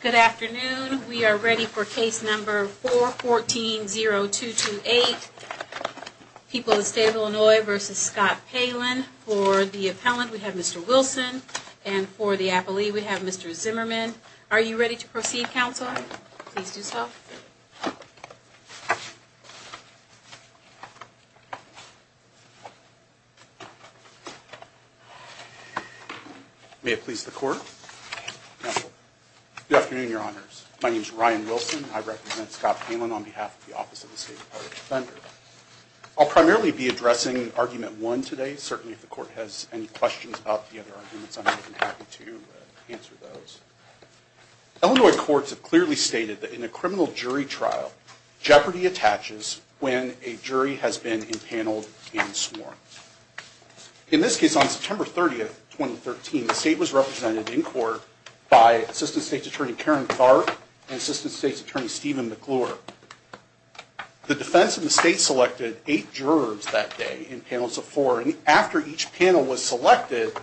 Good afternoon. We are ready for case number 414-0228, People of the State of Illinois v. Scott Palen. For the appellant, we have Mr. Wilson, and for the appellee, we have Mr. Zimmerman. Are you ready to proceed, counsel? Please do so. May it please the court. Good afternoon, your honors. My name is Ryan Wilson. I represent Scott Palen on behalf of the Office of the State Department of Defender. I'll primarily be addressing Argument 1 today. Certainly, if the court has any questions about the other arguments, I'm happy to answer those. Illinois courts have clearly stated that in a criminal jury trial, jeopardy attaches when a jury has been empaneled and sworn. In this case, on September 30, 2013, the state was represented in court by Assistant State's Attorney Karen Tharp and Assistant State's Attorney Stephen McClure. The defense and the state selected eight jurors that day in panels of four, and after each panel was selected,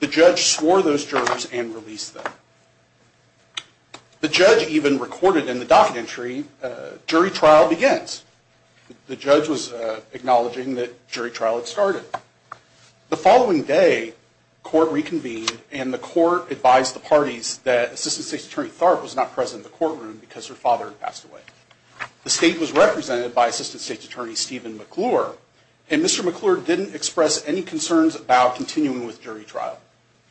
the judge swore those jurors and released them. The judge even recorded in the docket entry, jury trial begins. The judge was acknowledging that jury trial had started. The following day, court reconvened, and the court advised the parties that Assistant State's Attorney Tharp was not present in the courtroom because her father had passed away. The state was represented by Assistant State's Attorney Stephen McClure, and Mr. McClure didn't express any concerns about continuing with jury trial.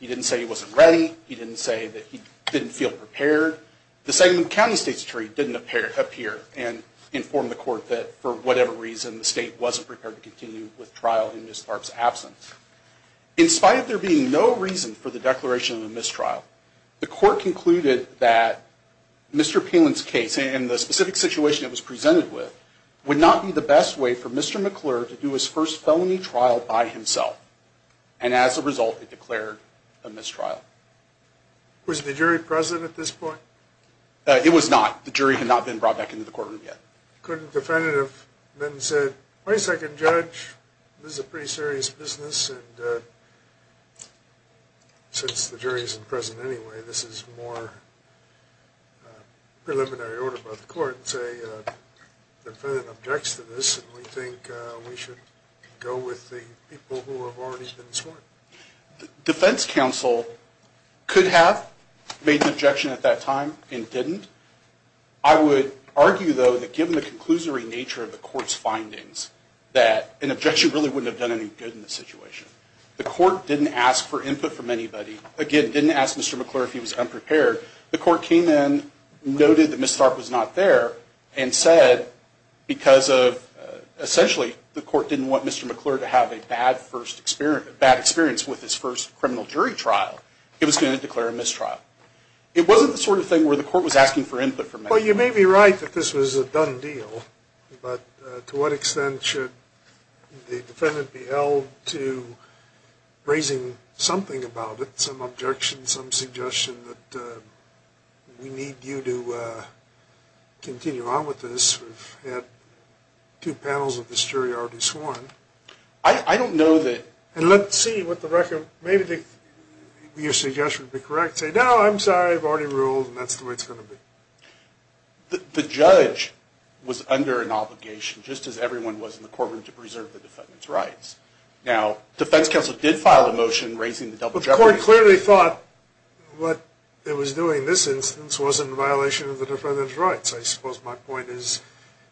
He didn't say he wasn't ready. He didn't say that he didn't feel prepared. The Segment County State's Attorney didn't appear and inform the court that, for whatever reason, the state wasn't prepared to continue with trial in Ms. Tharp's absence. In spite of there being no reason for the declaration of a mistrial, the court concluded that Mr. Palin's case, and the specific situation it was presented with, would not be the best way for Mr. McClure to do his first felony trial by himself, and as a result, it declared a mistrial. Was the jury present at this point? It was not. The jury had not been brought back into the courtroom yet. Couldn't the defendant have then said, wait a second, Judge, this is a pretty serious business, and since the jury isn't present anyway, this is more preliminary order by the court, and say, the defendant objects to this, and we think we should go with the people who have already been sworn? Defense counsel could have made an objection at that time and didn't. I would argue, though, that given the conclusory nature of the court's findings, that an objection really wouldn't have done any good in this situation. The court didn't ask for input from anybody. Again, didn't ask Mr. McClure if he was unprepared. The court came in, noted that Ms. Tharp was not there, and said, because of, essentially, the court didn't want Mr. McClure to have a bad experience with his first criminal jury trial, it was going to declare a mistrial. It wasn't the sort of thing where the court was asking for input from anybody. Well, you may be right that this was a done deal, but to what extent should the defendant be held to raising something about it, some objection, some suggestion that we need you to continue on with this? We've had two panels of this jury already sworn. And let's see what the record, maybe your suggestion would be correct, say, no, I'm sorry, I've already ruled, and that's the way it's going to be. The judge was under an obligation, just as everyone was in the courtroom, to preserve the defendant's rights. Now, defense counsel did file a motion raising the double jeopardy. I clearly thought what it was doing in this instance wasn't a violation of the defendant's rights. I suppose my point is,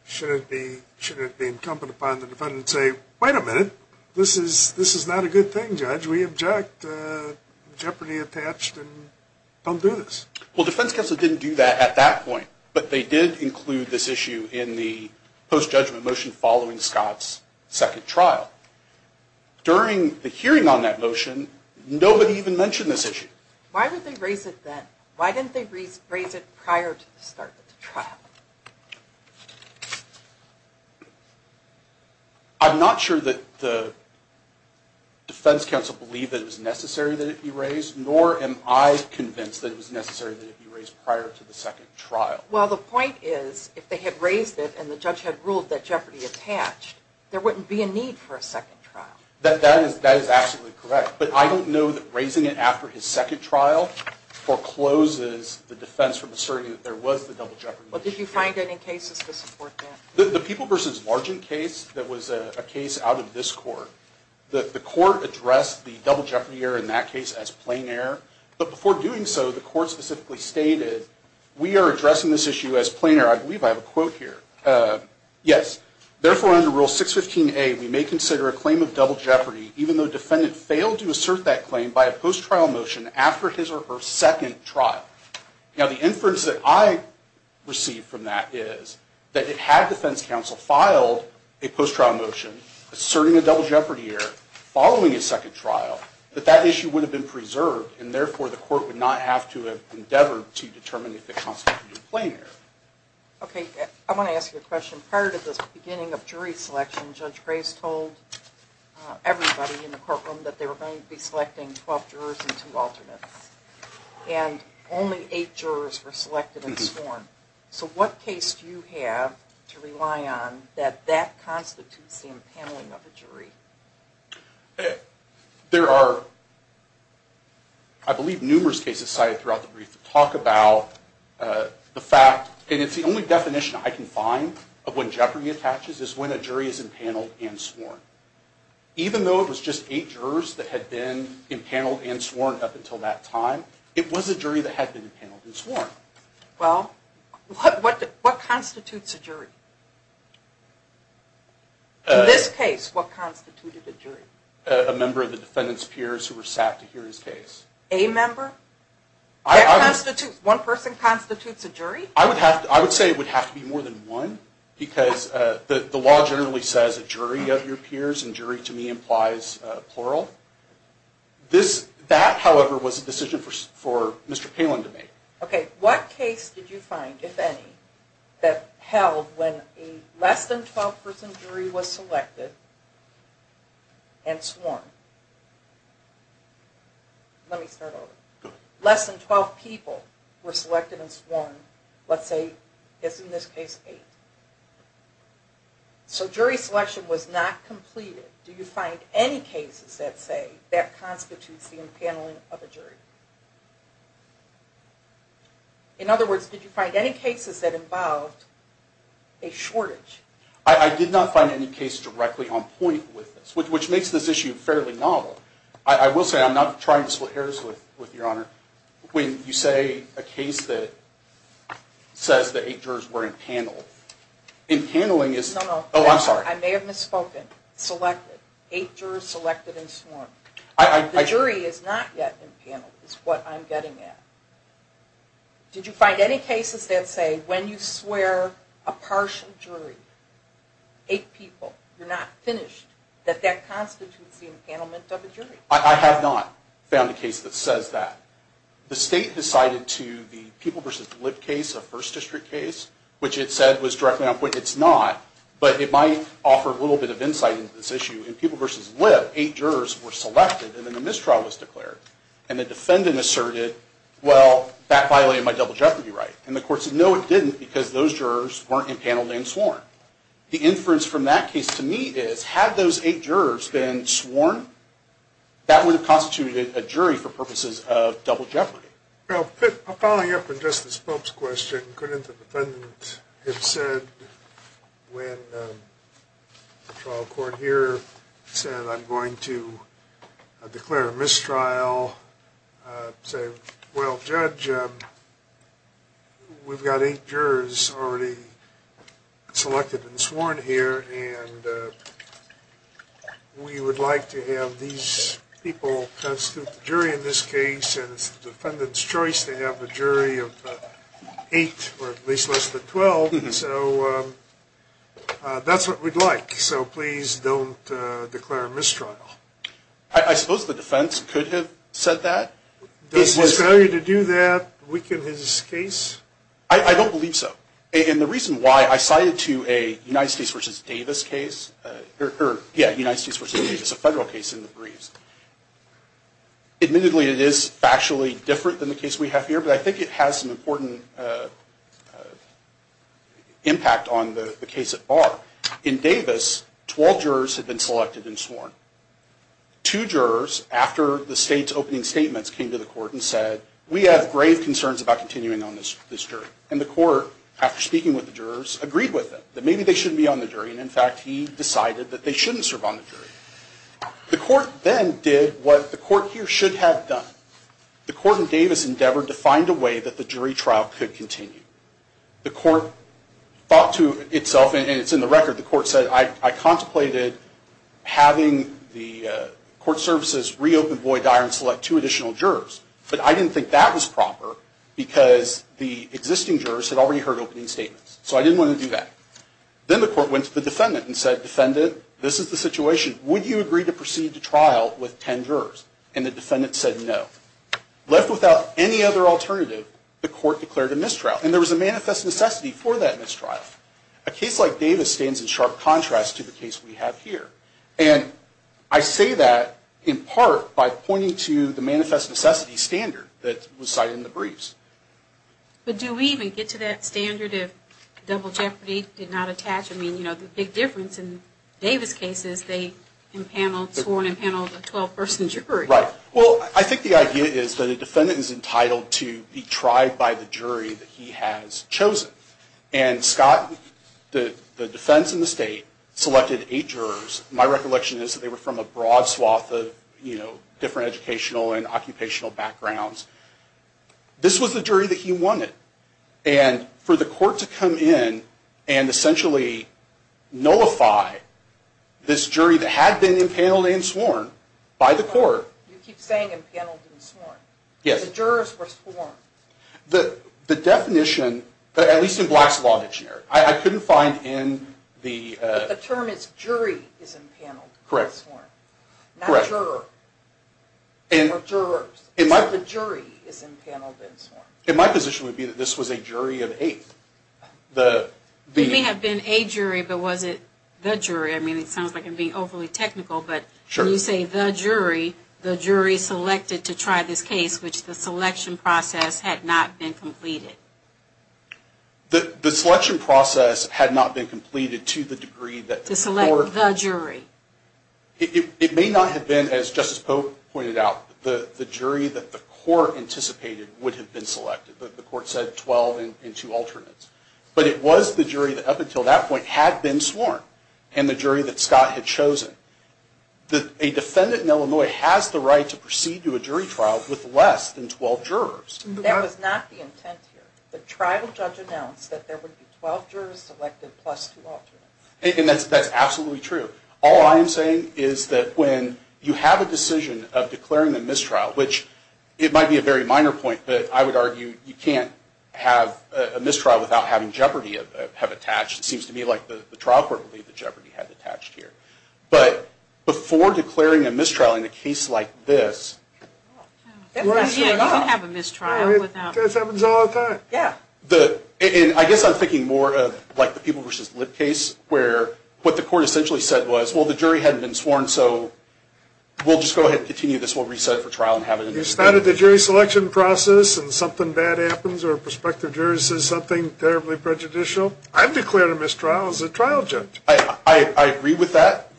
shouldn't it be incumbent upon the defendant to say, wait a minute, this is not a good thing, judge, we object, jeopardy attached, and don't do this. Well, defense counsel didn't do that at that point, but they did include this issue in the post-judgment motion following Scott's second trial. During the hearing on that motion, nobody even mentioned this issue. Why didn't they raise it then? Why didn't they raise it prior to the start of the trial? I'm not sure that the defense counsel believed that it was necessary that it be raised, nor am I convinced that it was necessary that it be raised prior to the second trial. Well, the point is, if they had raised it and the judge had ruled that jeopardy attached, there wouldn't be a need for a second trial. That is absolutely correct, but I don't know that raising it after his second trial forecloses the defense from asserting that there was the double jeopardy issue. Did you find any cases to support that? The People v. Largent case that was a case out of this court, the court addressed the double jeopardy error in that case as plain error, but before doing so, the court specifically stated, we are addressing this issue as plain error. I believe I have a quote here. Yes. Therefore, under Rule 615A, we may consider a claim of double jeopardy even though the defendant failed to assert that claim by a post-trial motion after his or her second trial. Now, the inference that I received from that is that had defense counsel filed a post-trial motion asserting a double jeopardy error following his second trial, that that issue would have been preserved, and therefore the court would not have to endeavor to determine if the counsel did a plain error. Okay. I want to ask you a question. Prior to the beginning of jury selection, Judge Reyes told everybody in the courtroom that they were going to be selecting 12 jurors and two alternates, and only eight jurors were selected and sworn. So what case do you have to rely on that that constitutes the impaneling of a jury? There are, I believe, numerous cases cited throughout the brief that talk about the fact, and it's the only definition I can find of when jeopardy attaches is when a jury is impaneled and sworn. Even though it was just eight jurors that had been impaneled and sworn up until that time, it was a jury that had been impaneled and sworn. Well, what constitutes a jury? In this case, what constituted a jury? A member of the defendant's peers who were sat to hear his case. A member? One person constitutes a jury? I would say it would have to be more than one, because the law generally says a jury of your peers, and jury to me implies plural. That, however, was a decision for Mr. Palin to make. Okay, what case did you find, if any, that held when a less than 12 person jury was selected and sworn? Let me start over. Less than 12 people were selected and sworn, let's say, as in this case, eight. So jury selection was not completed. Do you find any cases that say that constitutes the impaneling of a jury? In other words, did you find any cases that involved a shortage? I did not find any case directly on point with this, which makes this issue fairly novel. I will say, I'm not trying to split hairs with Your Honor. When you say a case that says that eight jurors were impaneled, impaneling is... No, no. Oh, I'm sorry. I may have misspoken. Selected. Eight jurors selected and sworn. The jury is not yet impaneled, is what I'm getting at. Did you find any cases that say when you swear a partial jury, eight people, you're not finished, that that constitutes the impanelment of a jury? I have not found a case that says that. The state decided to the People v. Lib case, a First District case, which it said was directly on point. It's not, but it might offer a little bit of insight into this issue. In People v. Lib, eight jurors were selected and then the mistrial was declared. And the defendant asserted, well, that violated my double jeopardy right. And the court said, no, it didn't, because those jurors weren't impaneled and sworn. The inference from that case to me is, had those eight jurors been sworn, that would have constituted a jury for purposes of double jeopardy. Well, following up on Justice Pope's question, couldn't the defendant have said when the trial court here said I'm going to declare a mistrial, say, well, Judge, we've got eight jurors already selected and sworn here. And we would like to have these people constitute the jury in this case. And it's the defendant's choice to have a jury of eight or at least less than 12. So that's what we'd like. So please don't declare a mistrial. I suppose the defense could have said that. Does his failure to do that weaken his case? I don't believe so. And the reason why I cited to a United States v. Davis case, or, yeah, United States v. Davis, a federal case in the briefs. Admittedly, it is factually different than the case we have here, In Davis, 12 jurors had been selected and sworn. Two jurors, after the state's opening statements, came to the court and said, we have grave concerns about continuing on this jury. And the court, after speaking with the jurors, agreed with them, that maybe they shouldn't be on the jury. And, in fact, he decided that they shouldn't serve on the jury. The court then did what the court here should have done. The court in Davis endeavored to find a way that the jury trial could continue. The court thought to itself, and it's in the record, the court said, I contemplated having the court services reopen Boyd-Dyer and select two additional jurors. But I didn't think that was proper because the existing jurors had already heard opening statements. So I didn't want to do that. Then the court went to the defendant and said, defendant, this is the situation. Would you agree to proceed to trial with ten jurors? And the defendant said no. Left without any other alternative, the court declared a mistrial. And there was a manifest necessity for that mistrial. A case like Davis stands in sharp contrast to the case we have here. And I say that in part by pointing to the manifest necessity standard that was cited in the briefs. But do we even get to that standard if double jeopardy did not attach? I mean, you know, the big difference in Davis' case is they sworn and paneled a 12-person jury. Right. Well, I think the idea is that a defendant is entitled to be tried by the jury that he has chosen. And Scott, the defense in the state, selected eight jurors. My recollection is that they were from a broad swath of, you know, different educational and occupational backgrounds. This was the jury that he wanted. And for the court to come in and essentially nullify this jury that had been impaneled and sworn by the court. You keep saying impaneled and sworn. Yes. The jurors were sworn. The definition, at least in Black's Law Dictionary, I couldn't find in the- The term is jury is impaneled and sworn. Correct. Not juror. Or jurors. So the jury is impaneled and sworn. And my position would be that this was a jury of eight. It may have been a jury, but was it the jury? I mean, it sounds like I'm being overly technical, but when you say the jury, the jury selected to try this case, which the selection process had not been completed. The selection process had not been completed to the degree that the court- To select the jury. It may not have been, as Justice Pope pointed out, the jury that the court anticipated would have been selected. The court said 12 and two alternates. But it was the jury that up until that point had been sworn and the jury that Scott had chosen. A defendant in Illinois has the right to proceed to a jury trial with less than 12 jurors. That was not the intent here. The trial judge announced that there would be 12 jurors selected plus two alternates. And that's absolutely true. All I am saying is that when you have a decision of declaring a mistrial, which it might be a very minor point, but I would argue you can't have a mistrial without having jeopardy have attached. It seems to me like the trial court believed that jeopardy had attached here. But before declaring a mistrial in a case like this- Yeah, you can have a mistrial without- It happens all the time. I guess I'm thinking more of like the People v. Lip case where what the court essentially said was, well, the jury hadn't been sworn, so we'll just go ahead and continue this. We'll reset it for trial and have it in the state. It's not that the jury selection process and something bad happens or a prospective jury says something terribly prejudicial. I've declared a mistrial as a trial judge. I agree with that.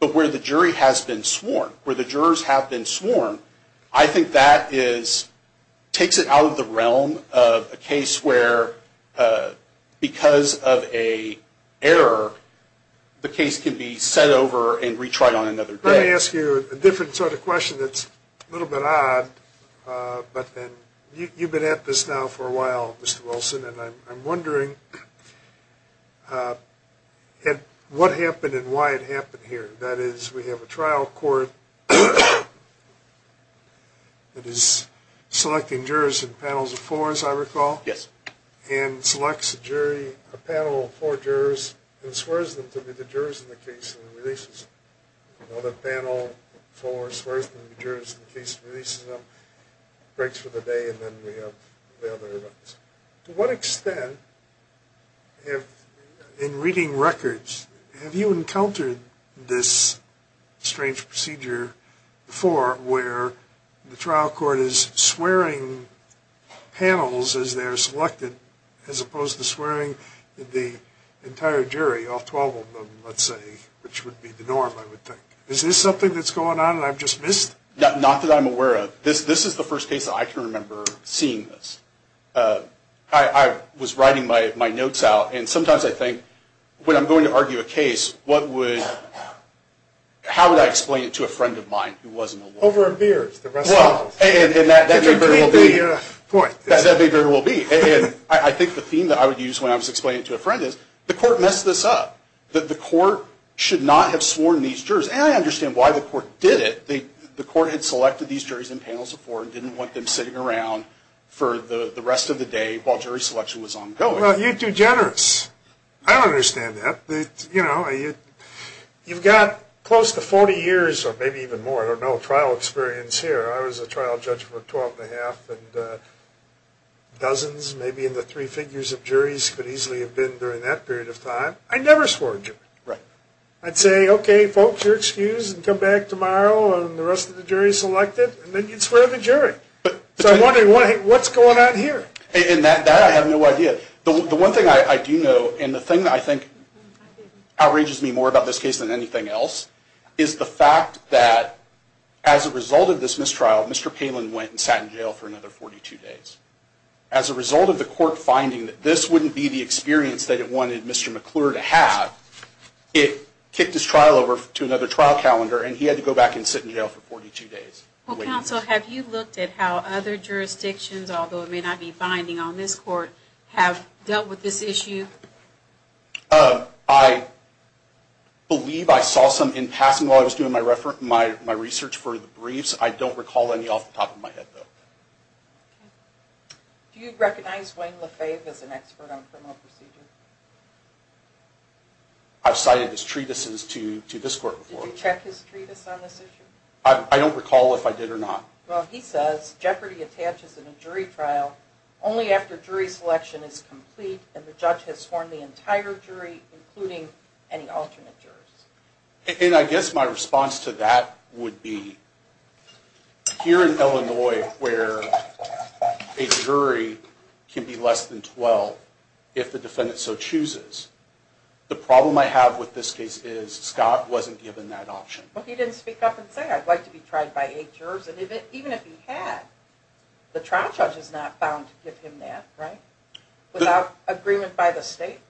But where the jury has been sworn, where the jurors have been sworn, I think that takes it out of the realm of a case where because of an error, the case can be sent over and retried on another day. Let me ask you a different sort of question that's a little bit odd. You've been at this now for a while, Mr. Wilson, and I'm wondering what happened and why it happened here. That is, we have a trial court that is selecting jurors in panels of four, as I recall, and selects a panel of four jurors and swears them to be the jurors in the case and releases them. Another panel of four swears them to be jurors in the case and releases them, breaks for the day, and then we have the other panels. To what extent, in reading records, have you encountered this strange procedure before where the trial court is swearing panels as they are selected as opposed to swearing the entire jury, all 12 of them, let's say, which would be the norm, I would think. Is this something that's going on and I've just missed it? Not that I'm aware of. This is the first case that I can remember seeing this. I was writing my notes out, and sometimes I think, when I'm going to argue a case, how would I explain it to a friend of mine who wasn't a lawyer? Over a beer, the rest of us. And that may very well be. That may very well be. And I think the theme that I would use when I was explaining it to a friend is, the court messed this up, that the court should not have sworn these jurors. And I understand why the court did it. The court had selected these jurors in panels of four and didn't want them sitting around for the rest of the day while jury selection was ongoing. Well, you're too generous. I don't understand that. You've got close to 40 years, or maybe even more, I don't know, trial experience here. I was a trial judge for 12 and a half and dozens, maybe in the three figures of juries, could easily have been during that period of time. I never swore a jury. Right. I'd say, okay, folks, you're excused and come back tomorrow and the rest of the jury is selected, and then you'd swear the jury. So I'm wondering, what's going on here? And that I have no idea. The one thing I do know, and the thing that I think outrages me more about this case than anything else, is the fact that as a result of this mistrial, Mr. Palin went and sat in jail for another 42 days. As a result of the court finding that this wouldn't be the experience that it wanted Mr. McClure to have, it kicked his trial over to another trial calendar and he had to go back and sit in jail for 42 days. Well, counsel, have you looked at how other jurisdictions, although it may not be binding on this court, have dealt with this issue? I believe I saw some in passing while I was doing my research for the briefs. I don't recall any off the top of my head, though. Do you recognize Wayne Lefebvre as an expert on criminal procedure? I've cited his treatises to this court before. Did you check his treatise on this issue? I don't recall if I did or not. Well, he says, jeopardy attaches in a jury trial only after jury selection is complete and the judge has sworn the entire jury, including any alternate jurors. And I guess my response to that would be, here in Illinois where a jury can be less than 12 if the defendant so chooses, the problem I have with this case is Scott wasn't given that option. But he didn't speak up and say, I'd like to be tried by eight jurors. And even if he had, the trial judge is not bound to give him that, right? Without agreement by the state?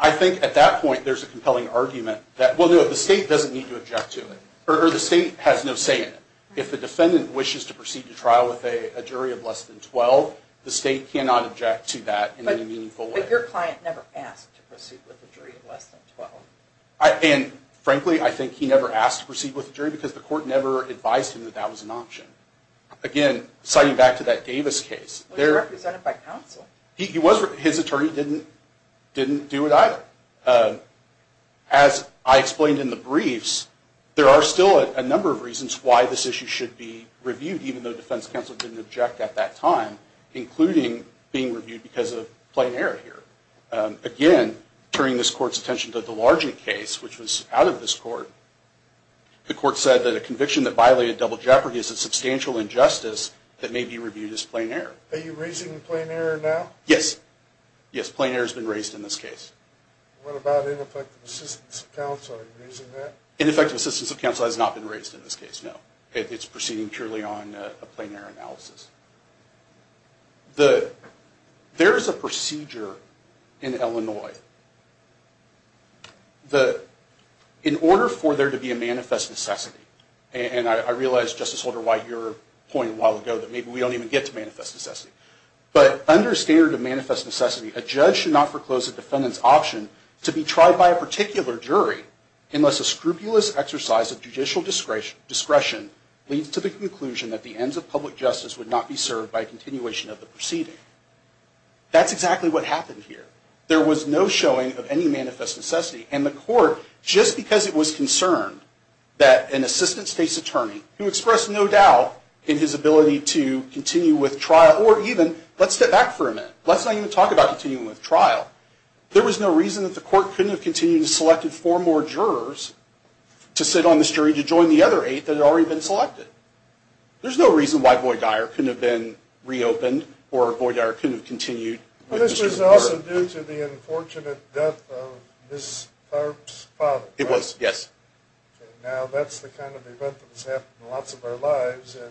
I think at that point there's a compelling argument that, well, no, the state doesn't need to object to it. Or the state has no say in it. If the defendant wishes to proceed to trial with a jury of less than 12, the state cannot object to that in any meaningful way. But your client never asked to proceed with a jury of less than 12. And frankly, I think he never asked to proceed with a jury because the court never advised him that that was an option. Again, citing back to that Davis case. He was represented by counsel. His attorney didn't do it either. As I explained in the briefs, there are still a number of reasons why this issue should be reviewed, even though defense counsel didn't object at that time, including being reviewed because of plain error here. Again, turning this court's attention to the Delargent case, which was out of this court, the court said that a conviction that violated double jeopardy is a substantial injustice that may be reviewed as plain error. Are you raising the plain error now? Yes. Yes, plain error has been raised in this case. What about ineffective assistance of counsel? Are you raising that? Ineffective assistance of counsel has not been raised in this case, no. It's proceeding purely on a plain error analysis. There is a procedure in Illinois. In order for there to be a manifest necessity, and I realize, Justice Holder White, your point a while ago that maybe we don't even get to manifest necessity, but under standard of manifest necessity, a judge should not foreclose a defendant's option to be tried by a particular jury unless a scrupulous exercise of judicial discretion leads to the conclusion that the ends of public justice would not be served by a continuation of the proceeding. That's exactly what happened here. There was no showing of any manifest necessity, and the court, just because it was concerned that an assistant state's attorney, who expressed no doubt in his ability to continue with trial, or even, let's step back for a minute. Let's not even talk about continuing with trial. There was no reason that the court couldn't have continued to select four more jurors to sit on this jury to join the other eight that had already been selected. There's no reason why Boyd Dyer couldn't have been reopened or Boyd Dyer couldn't have continued with this jury. This was also due to the unfortunate death of Ms. Parks' father, right? It was, yes. Now that's the kind of event that has happened in lots of our lives, and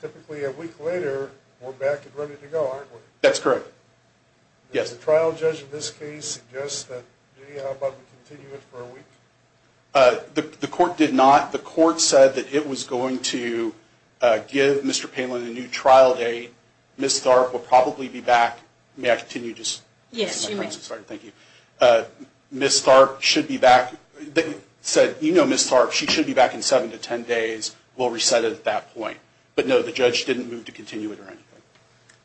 typically a week later, we're back and ready to go, aren't we? That's correct. Does the trial judge in this case suggest that, gee, how about we continue it for a week? The court did not. The court said that it was going to give Mr. Palin a new trial date. Ms. Tharp will probably be back. May I continue? Yes, you may. I'm sorry, thank you. Ms. Tharp should be back. They said, you know Ms. Tharp, she should be back in seven to ten days. We'll reset it at that point. But no, the judge didn't move to continue it or anything.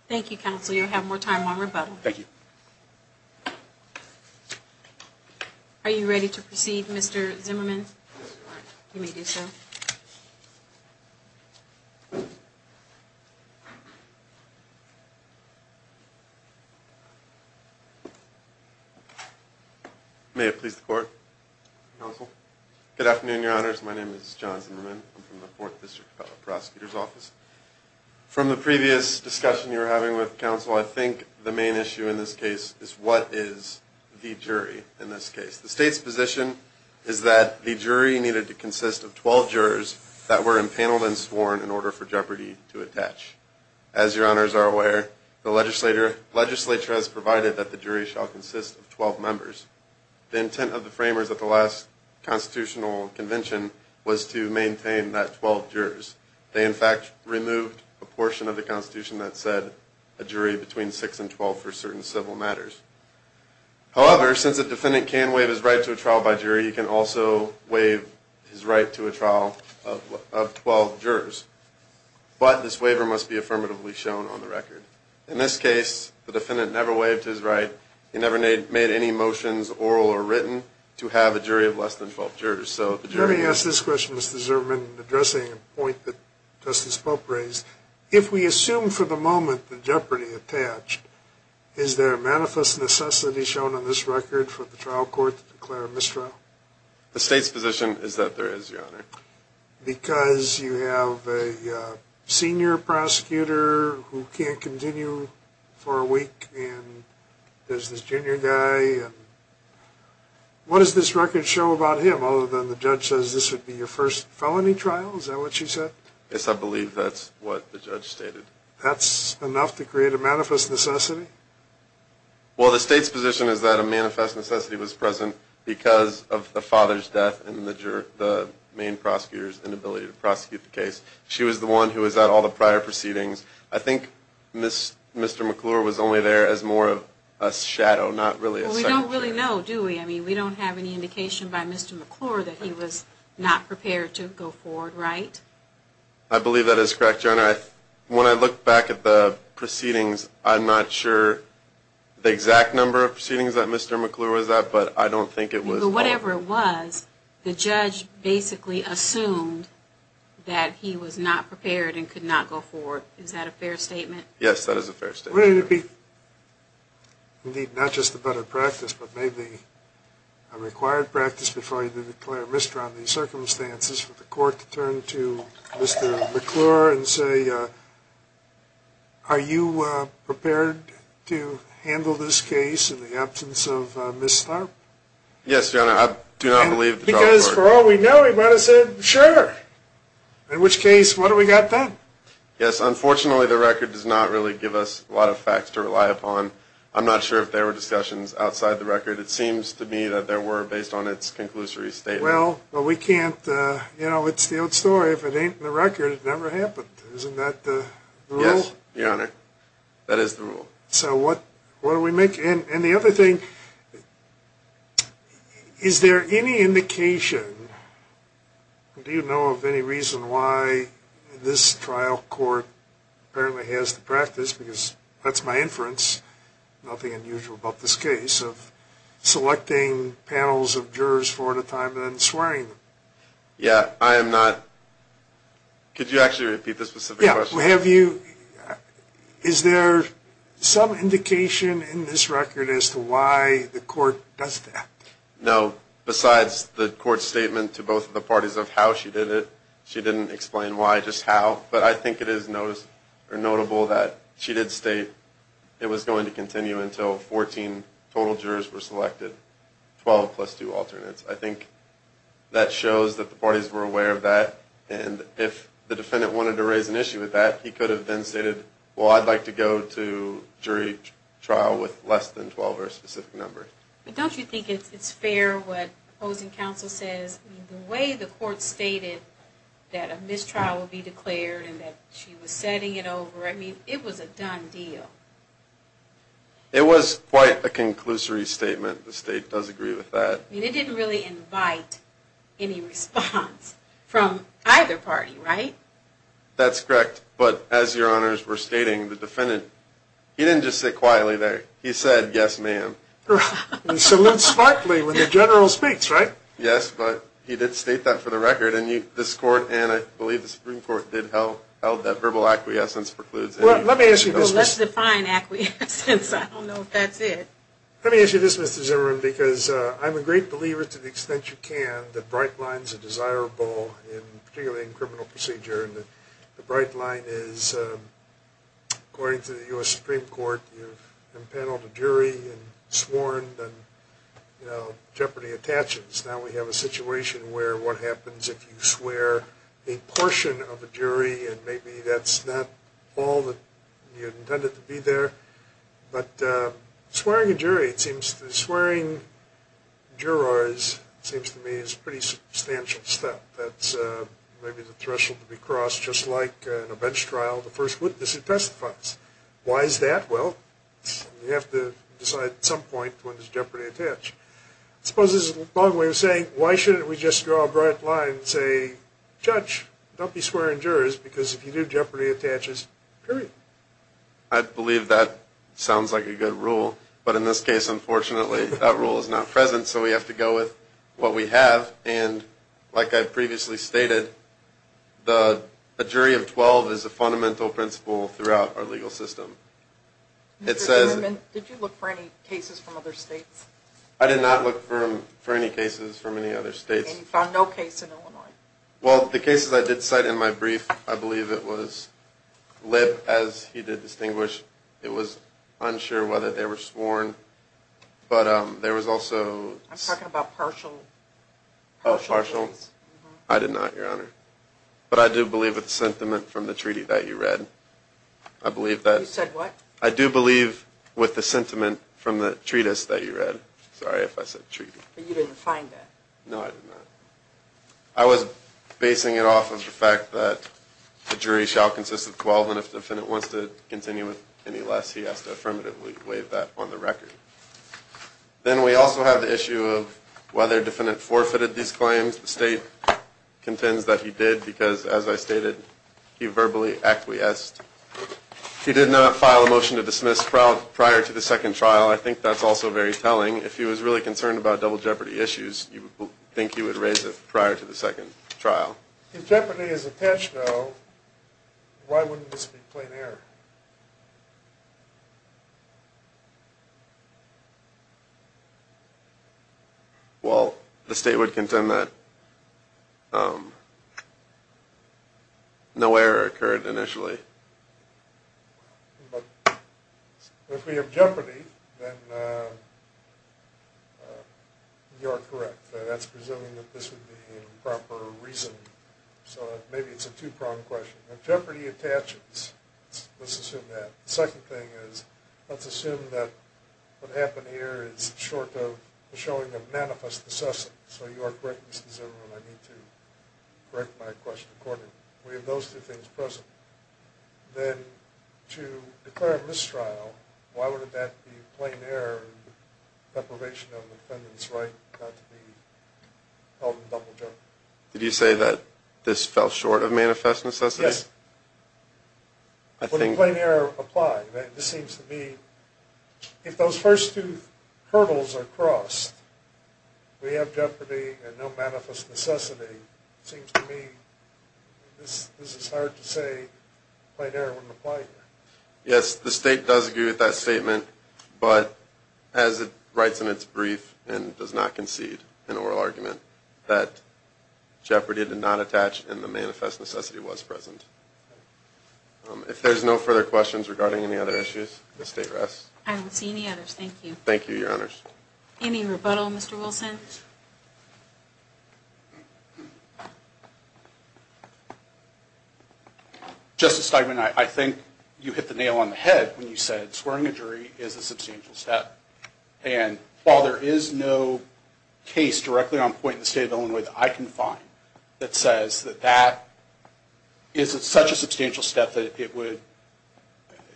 Thank you, counsel. You'll have more time on rebuttal. Thank you. Are you ready to proceed, Mr. Zimmerman? You may do so. May it please the court. Counsel. Good afternoon, Your Honors. My name is John Zimmerman. I'm from the 4th District Public Prosecutor's Office. From the previous discussion you were having with counsel, I think the main issue in this case is what is the jury in this case. The state's position is that the jury needed to consist of 12 jurors that were empaneled and sworn in order for jeopardy to attach. As Your Honors are aware, the legislature has provided that the jury shall consist of 12 members. The intent of the framers at the last constitutional convention was to maintain that 12 jurors. They, in fact, removed a portion of the Constitution that said a jury between 6 and 12 for certain civil matters. However, since a defendant can waive his right to a trial by jury, he can also waive his right to a trial of 12 jurors. But this waiver must be affirmatively shown on the record. In this case, the defendant never waived his right. He never made any motions, oral or written, to have a jury of less than 12 jurors. Let me ask this question, Mr. Zimmerman, addressing a point that Justice Pope raised. If we assume for the moment the jeopardy attached, is there a manifest necessity shown on this record for the trial court to declare a mistrial? The state's position is that there is, Your Honor. Because you have a senior prosecutor who can't continue for a week, and there's this junior guy. What does this record show about him, other than the judge says this would be your first felony trial? Is that what you said? Yes, I believe that's what the judge stated. That's enough to create a manifest necessity? Well, the state's position is that a manifest necessity was present because of the father's death and the main prosecutor's inability to prosecute the case. She was the one who was at all the prior proceedings. I think Mr. McClure was only there as more of a shadow, not really a second jury. Well, we don't really know, do we? I mean, we don't have any indication by Mr. McClure that he was not prepared to go forward, right? I believe that is correct, Your Honor. When I look back at the proceedings, I'm not sure the exact number of proceedings that Mr. McClure was at, but I don't think it was all of them. Whatever it was, the judge basically assumed that he was not prepared and could not go forward. Is that a fair statement? Yes, that is a fair statement, Your Honor. Wouldn't it be, indeed, not just a better practice, but maybe a required practice before you declare a misdemeanor on these circumstances for the court to turn to Mr. McClure and say, are you prepared to handle this case in the absence of Ms. Tharp? Yes, Your Honor. I do not believe the trial court... Because, for all we know, he might have said, sure. In which case, what have we got then? Yes, unfortunately, the record does not really give us a lot of facts to rely upon. I'm not sure if there were discussions outside the record. It seems to me that there were, based on its conclusory statement. Well, we can't, you know, it's the old story. If it ain't in the record, it never happened. Isn't that the rule? Yes, Your Honor. That is the rule. So what do we make... And the other thing, is there any indication, do you know of any reason why this trial court apparently has the practice, because that's my inference, nothing unusual about this case, of selecting panels of jurors four at a time and then swearing them? Yeah, I am not... Could you actually repeat the specific question? Yeah, have you... Is there some indication in this record as to why the court does that? No. Besides the court's statement to both of the parties of how she did it, she didn't explain why, just how. But I think it is notable that she did state it was going to continue until 14 total jurors were selected, 12 plus two alternates. I think that shows that the parties were aware of that, and if the defendant wanted to raise an issue with that, he could have then stated, well, I'd like to go to jury trial with less than 12 or a specific number. But don't you think it's fair what opposing counsel says? The way the court stated that a mistrial would be declared and that she was setting it over, I mean, it was a done deal. It was quite a conclusory statement. The state does agree with that. But it didn't really invite any response from either party, right? That's correct. But as your honors were stating, the defendant, he didn't just sit quietly there. He said, yes, ma'am. Salutes smartly when the general speaks, right? Yes, but he did state that for the record, and this court and I believe the Supreme Court did held that verbal acquiescence precludes any... Well, let me ask you this. Well, let's define acquiescence. I don't know if that's it. Let me ask you this, Mr. Zimmerman, because I'm a great believer to the extent you can that bright lines are desirable, particularly in criminal procedure. And the bright line is, according to the U.S. Supreme Court, you've impaneled a jury and sworn and, you know, jeopardy attaches. Now we have a situation where what happens if you swear a portion of a jury and maybe that's not all that you intended to be there. But swearing a jury, it seems to me, is a pretty substantial step. That's maybe the threshold to be crossed, just like in a bench trial, the first witness who testifies. Why is that? Well, you have to decide at some point when there's jeopardy attached. I suppose there's a long way of saying, why shouldn't we just draw a bright line and say, judge, don't be swearing jurors because if you do, jeopardy attaches, period. I believe that sounds like a good rule, but in this case, unfortunately, that rule is not present, so we have to go with what we have. And like I previously stated, a jury of 12 is a fundamental principle throughout our legal system. Mr. Zimmerman, did you look for any cases from other states? I did not look for any cases from any other states. And you found no case in Illinois? Well, the cases I did cite in my brief, I believe it was Lipp, as he did distinguish, it was unsure whether they were sworn, but there was also – I'm talking about partial. Oh, partial? Uh-huh. I did not, Your Honor. But I do believe with the sentiment from the treaty that you read. I believe that – You said what? I do believe with the sentiment from the treatise that you read. Sorry if I said treaty. But you didn't find that? No, I did not. I was basing it off of the fact that the jury shall consist of 12, and if the defendant wants to continue with any less, he has to affirmatively waive that on the record. Then we also have the issue of whether the defendant forfeited these claims. The state contends that he did because, as I stated, he verbally acquiesced. He did not file a motion to dismiss prior to the second trial. I think that's also very telling. If he was really concerned about double jeopardy issues, you would think he would raise it prior to the second trial. If jeopardy is attached, though, why wouldn't this be plain error? Well, the state would contend that no error occurred initially. But if we have jeopardy, then you are correct. That's presuming that this would be improper reasoning. So maybe it's a two-prong question. If jeopardy attaches, let's assume that. The second thing is let's assume that what happened here is short of the showing of manifest necessity. So you are correct, Mr. Zimmerman. I need to correct my question accordingly. We have those two things present. Then to declare a mistrial, why would that be plain error and deprivation of the defendant's right not to be held in double jeopardy? Did you say that this fell short of manifest necessity? Yes. Would a plain error apply? This seems to me if those first two hurdles are crossed, we have jeopardy and no manifest necessity, it seems to me this is hard to say plain error wouldn't apply here. Yes, the state does agree with that statement, but as it writes in its brief and does not concede in oral argument, that jeopardy did not attach and the manifest necessity was present. If there's no further questions regarding any other issues, the state rests. I don't see any others. Thank you. Thank you, Your Honors. Any rebuttal, Mr. Wilson? Justice Steigman, I think you hit the nail on the head when you said swearing a jury is a substantial step. And while there is no case directly on point in the state of Illinois that I can find that says that that is such a substantial step that it would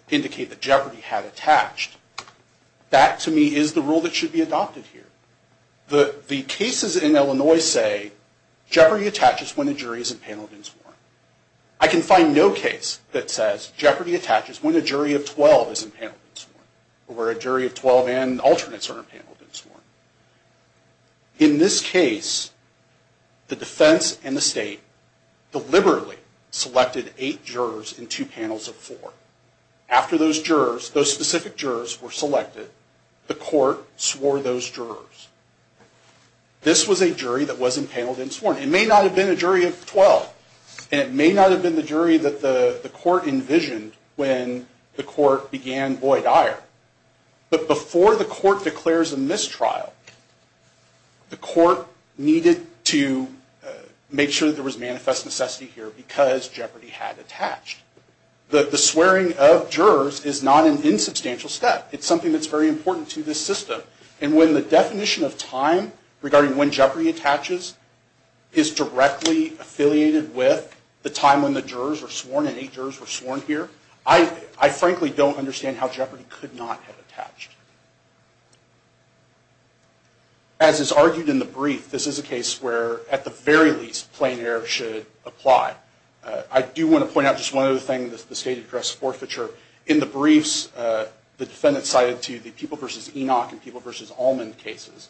indicate that jeopardy had attached, that to me is the rule that should be adopted here. The cases in Illinois say jeopardy attaches when a jury is impaneled and sworn. I can find no case that says jeopardy attaches when a jury of 12 is impaneled and sworn, or where a jury of 12 and alternates are impaneled and sworn. In this case, the defense and the state deliberately selected eight jurors and two panels of four. After those jurors, those specific jurors were selected, the court swore those jurors. This was a jury that was impaneled and sworn. It may not have been a jury of 12, and it may not have been the jury that the court envisioned when the court began Boyd-Ire. But before the court declares a mistrial, the court needed to make sure there was manifest necessity here because jeopardy had attached. The swearing of jurors is not an insubstantial step. It's something that's very important to this system. And when the definition of time regarding when jeopardy attaches is directly affiliated with the time when the jurors were sworn and eight jurors were sworn here, I frankly don't understand how jeopardy could not have attached. As is argued in the brief, this is a case where, at the very least, plain error should apply. I do want to point out just one other thing, the state address forfeiture. In the briefs, the defendant cited to the People v. Enoch and People v. Allman cases,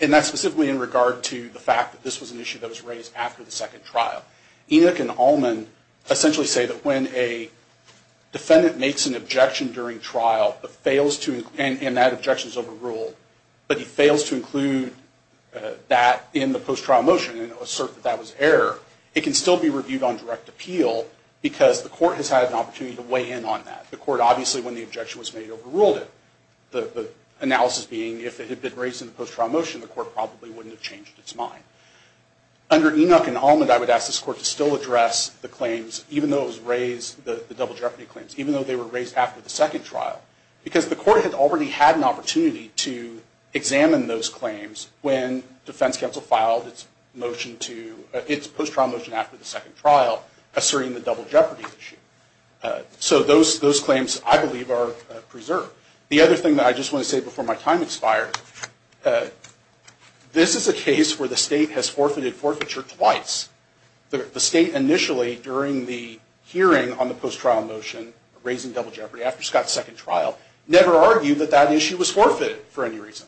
and that's specifically in regard to the fact that this was an issue that was raised after the second trial. Enoch and Allman essentially say that when a defendant makes an objection during trial and that objection is overruled, but he fails to include that in the post-trial motion and assert that that was error, it can still be reviewed on direct appeal because the court has had an opportunity to weigh in on that. The court obviously, when the objection was made, overruled it. The analysis being if it had been raised in the post-trial motion, the court probably wouldn't have changed its mind. Under Enoch and Allman, I would ask this court to still address the claims, even though it was raised, the double jeopardy claims, even though they were raised after the second trial, because the court had already had an opportunity to examine those claims when defense counsel filed its post-trial motion after the second trial asserting the double jeopardy issue. So those claims, I believe, are preserved. The other thing that I just want to say before my time expires, this is a case where the state has forfeited forfeiture twice. The state initially, during the hearing on the post-trial motion, raising double jeopardy after Scott's second trial, never argued that that issue was forfeited for any reason.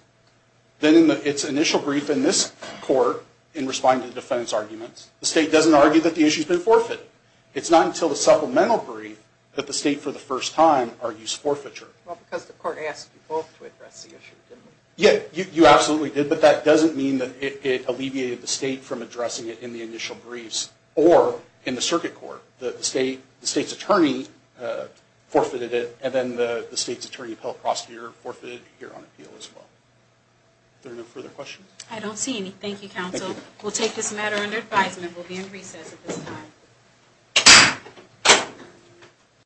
Then in its initial brief in this court, in responding to the defense arguments, the state doesn't argue that the issue's been forfeited. It's not until the supplemental brief that the state, for the first time, argues forfeiture. Well, because the court asked you both to address the issue, didn't it? Yeah, you absolutely did, but that doesn't mean that it alleviated the state from addressing it in the initial briefs or in the circuit court. The state's attorney forfeited it, and then the state's attorney appellate prosecutor forfeited it here on appeal as well. Are there no further questions? I don't see any. Thank you, counsel. We'll take this matter under advisement. We'll be in recess at this time.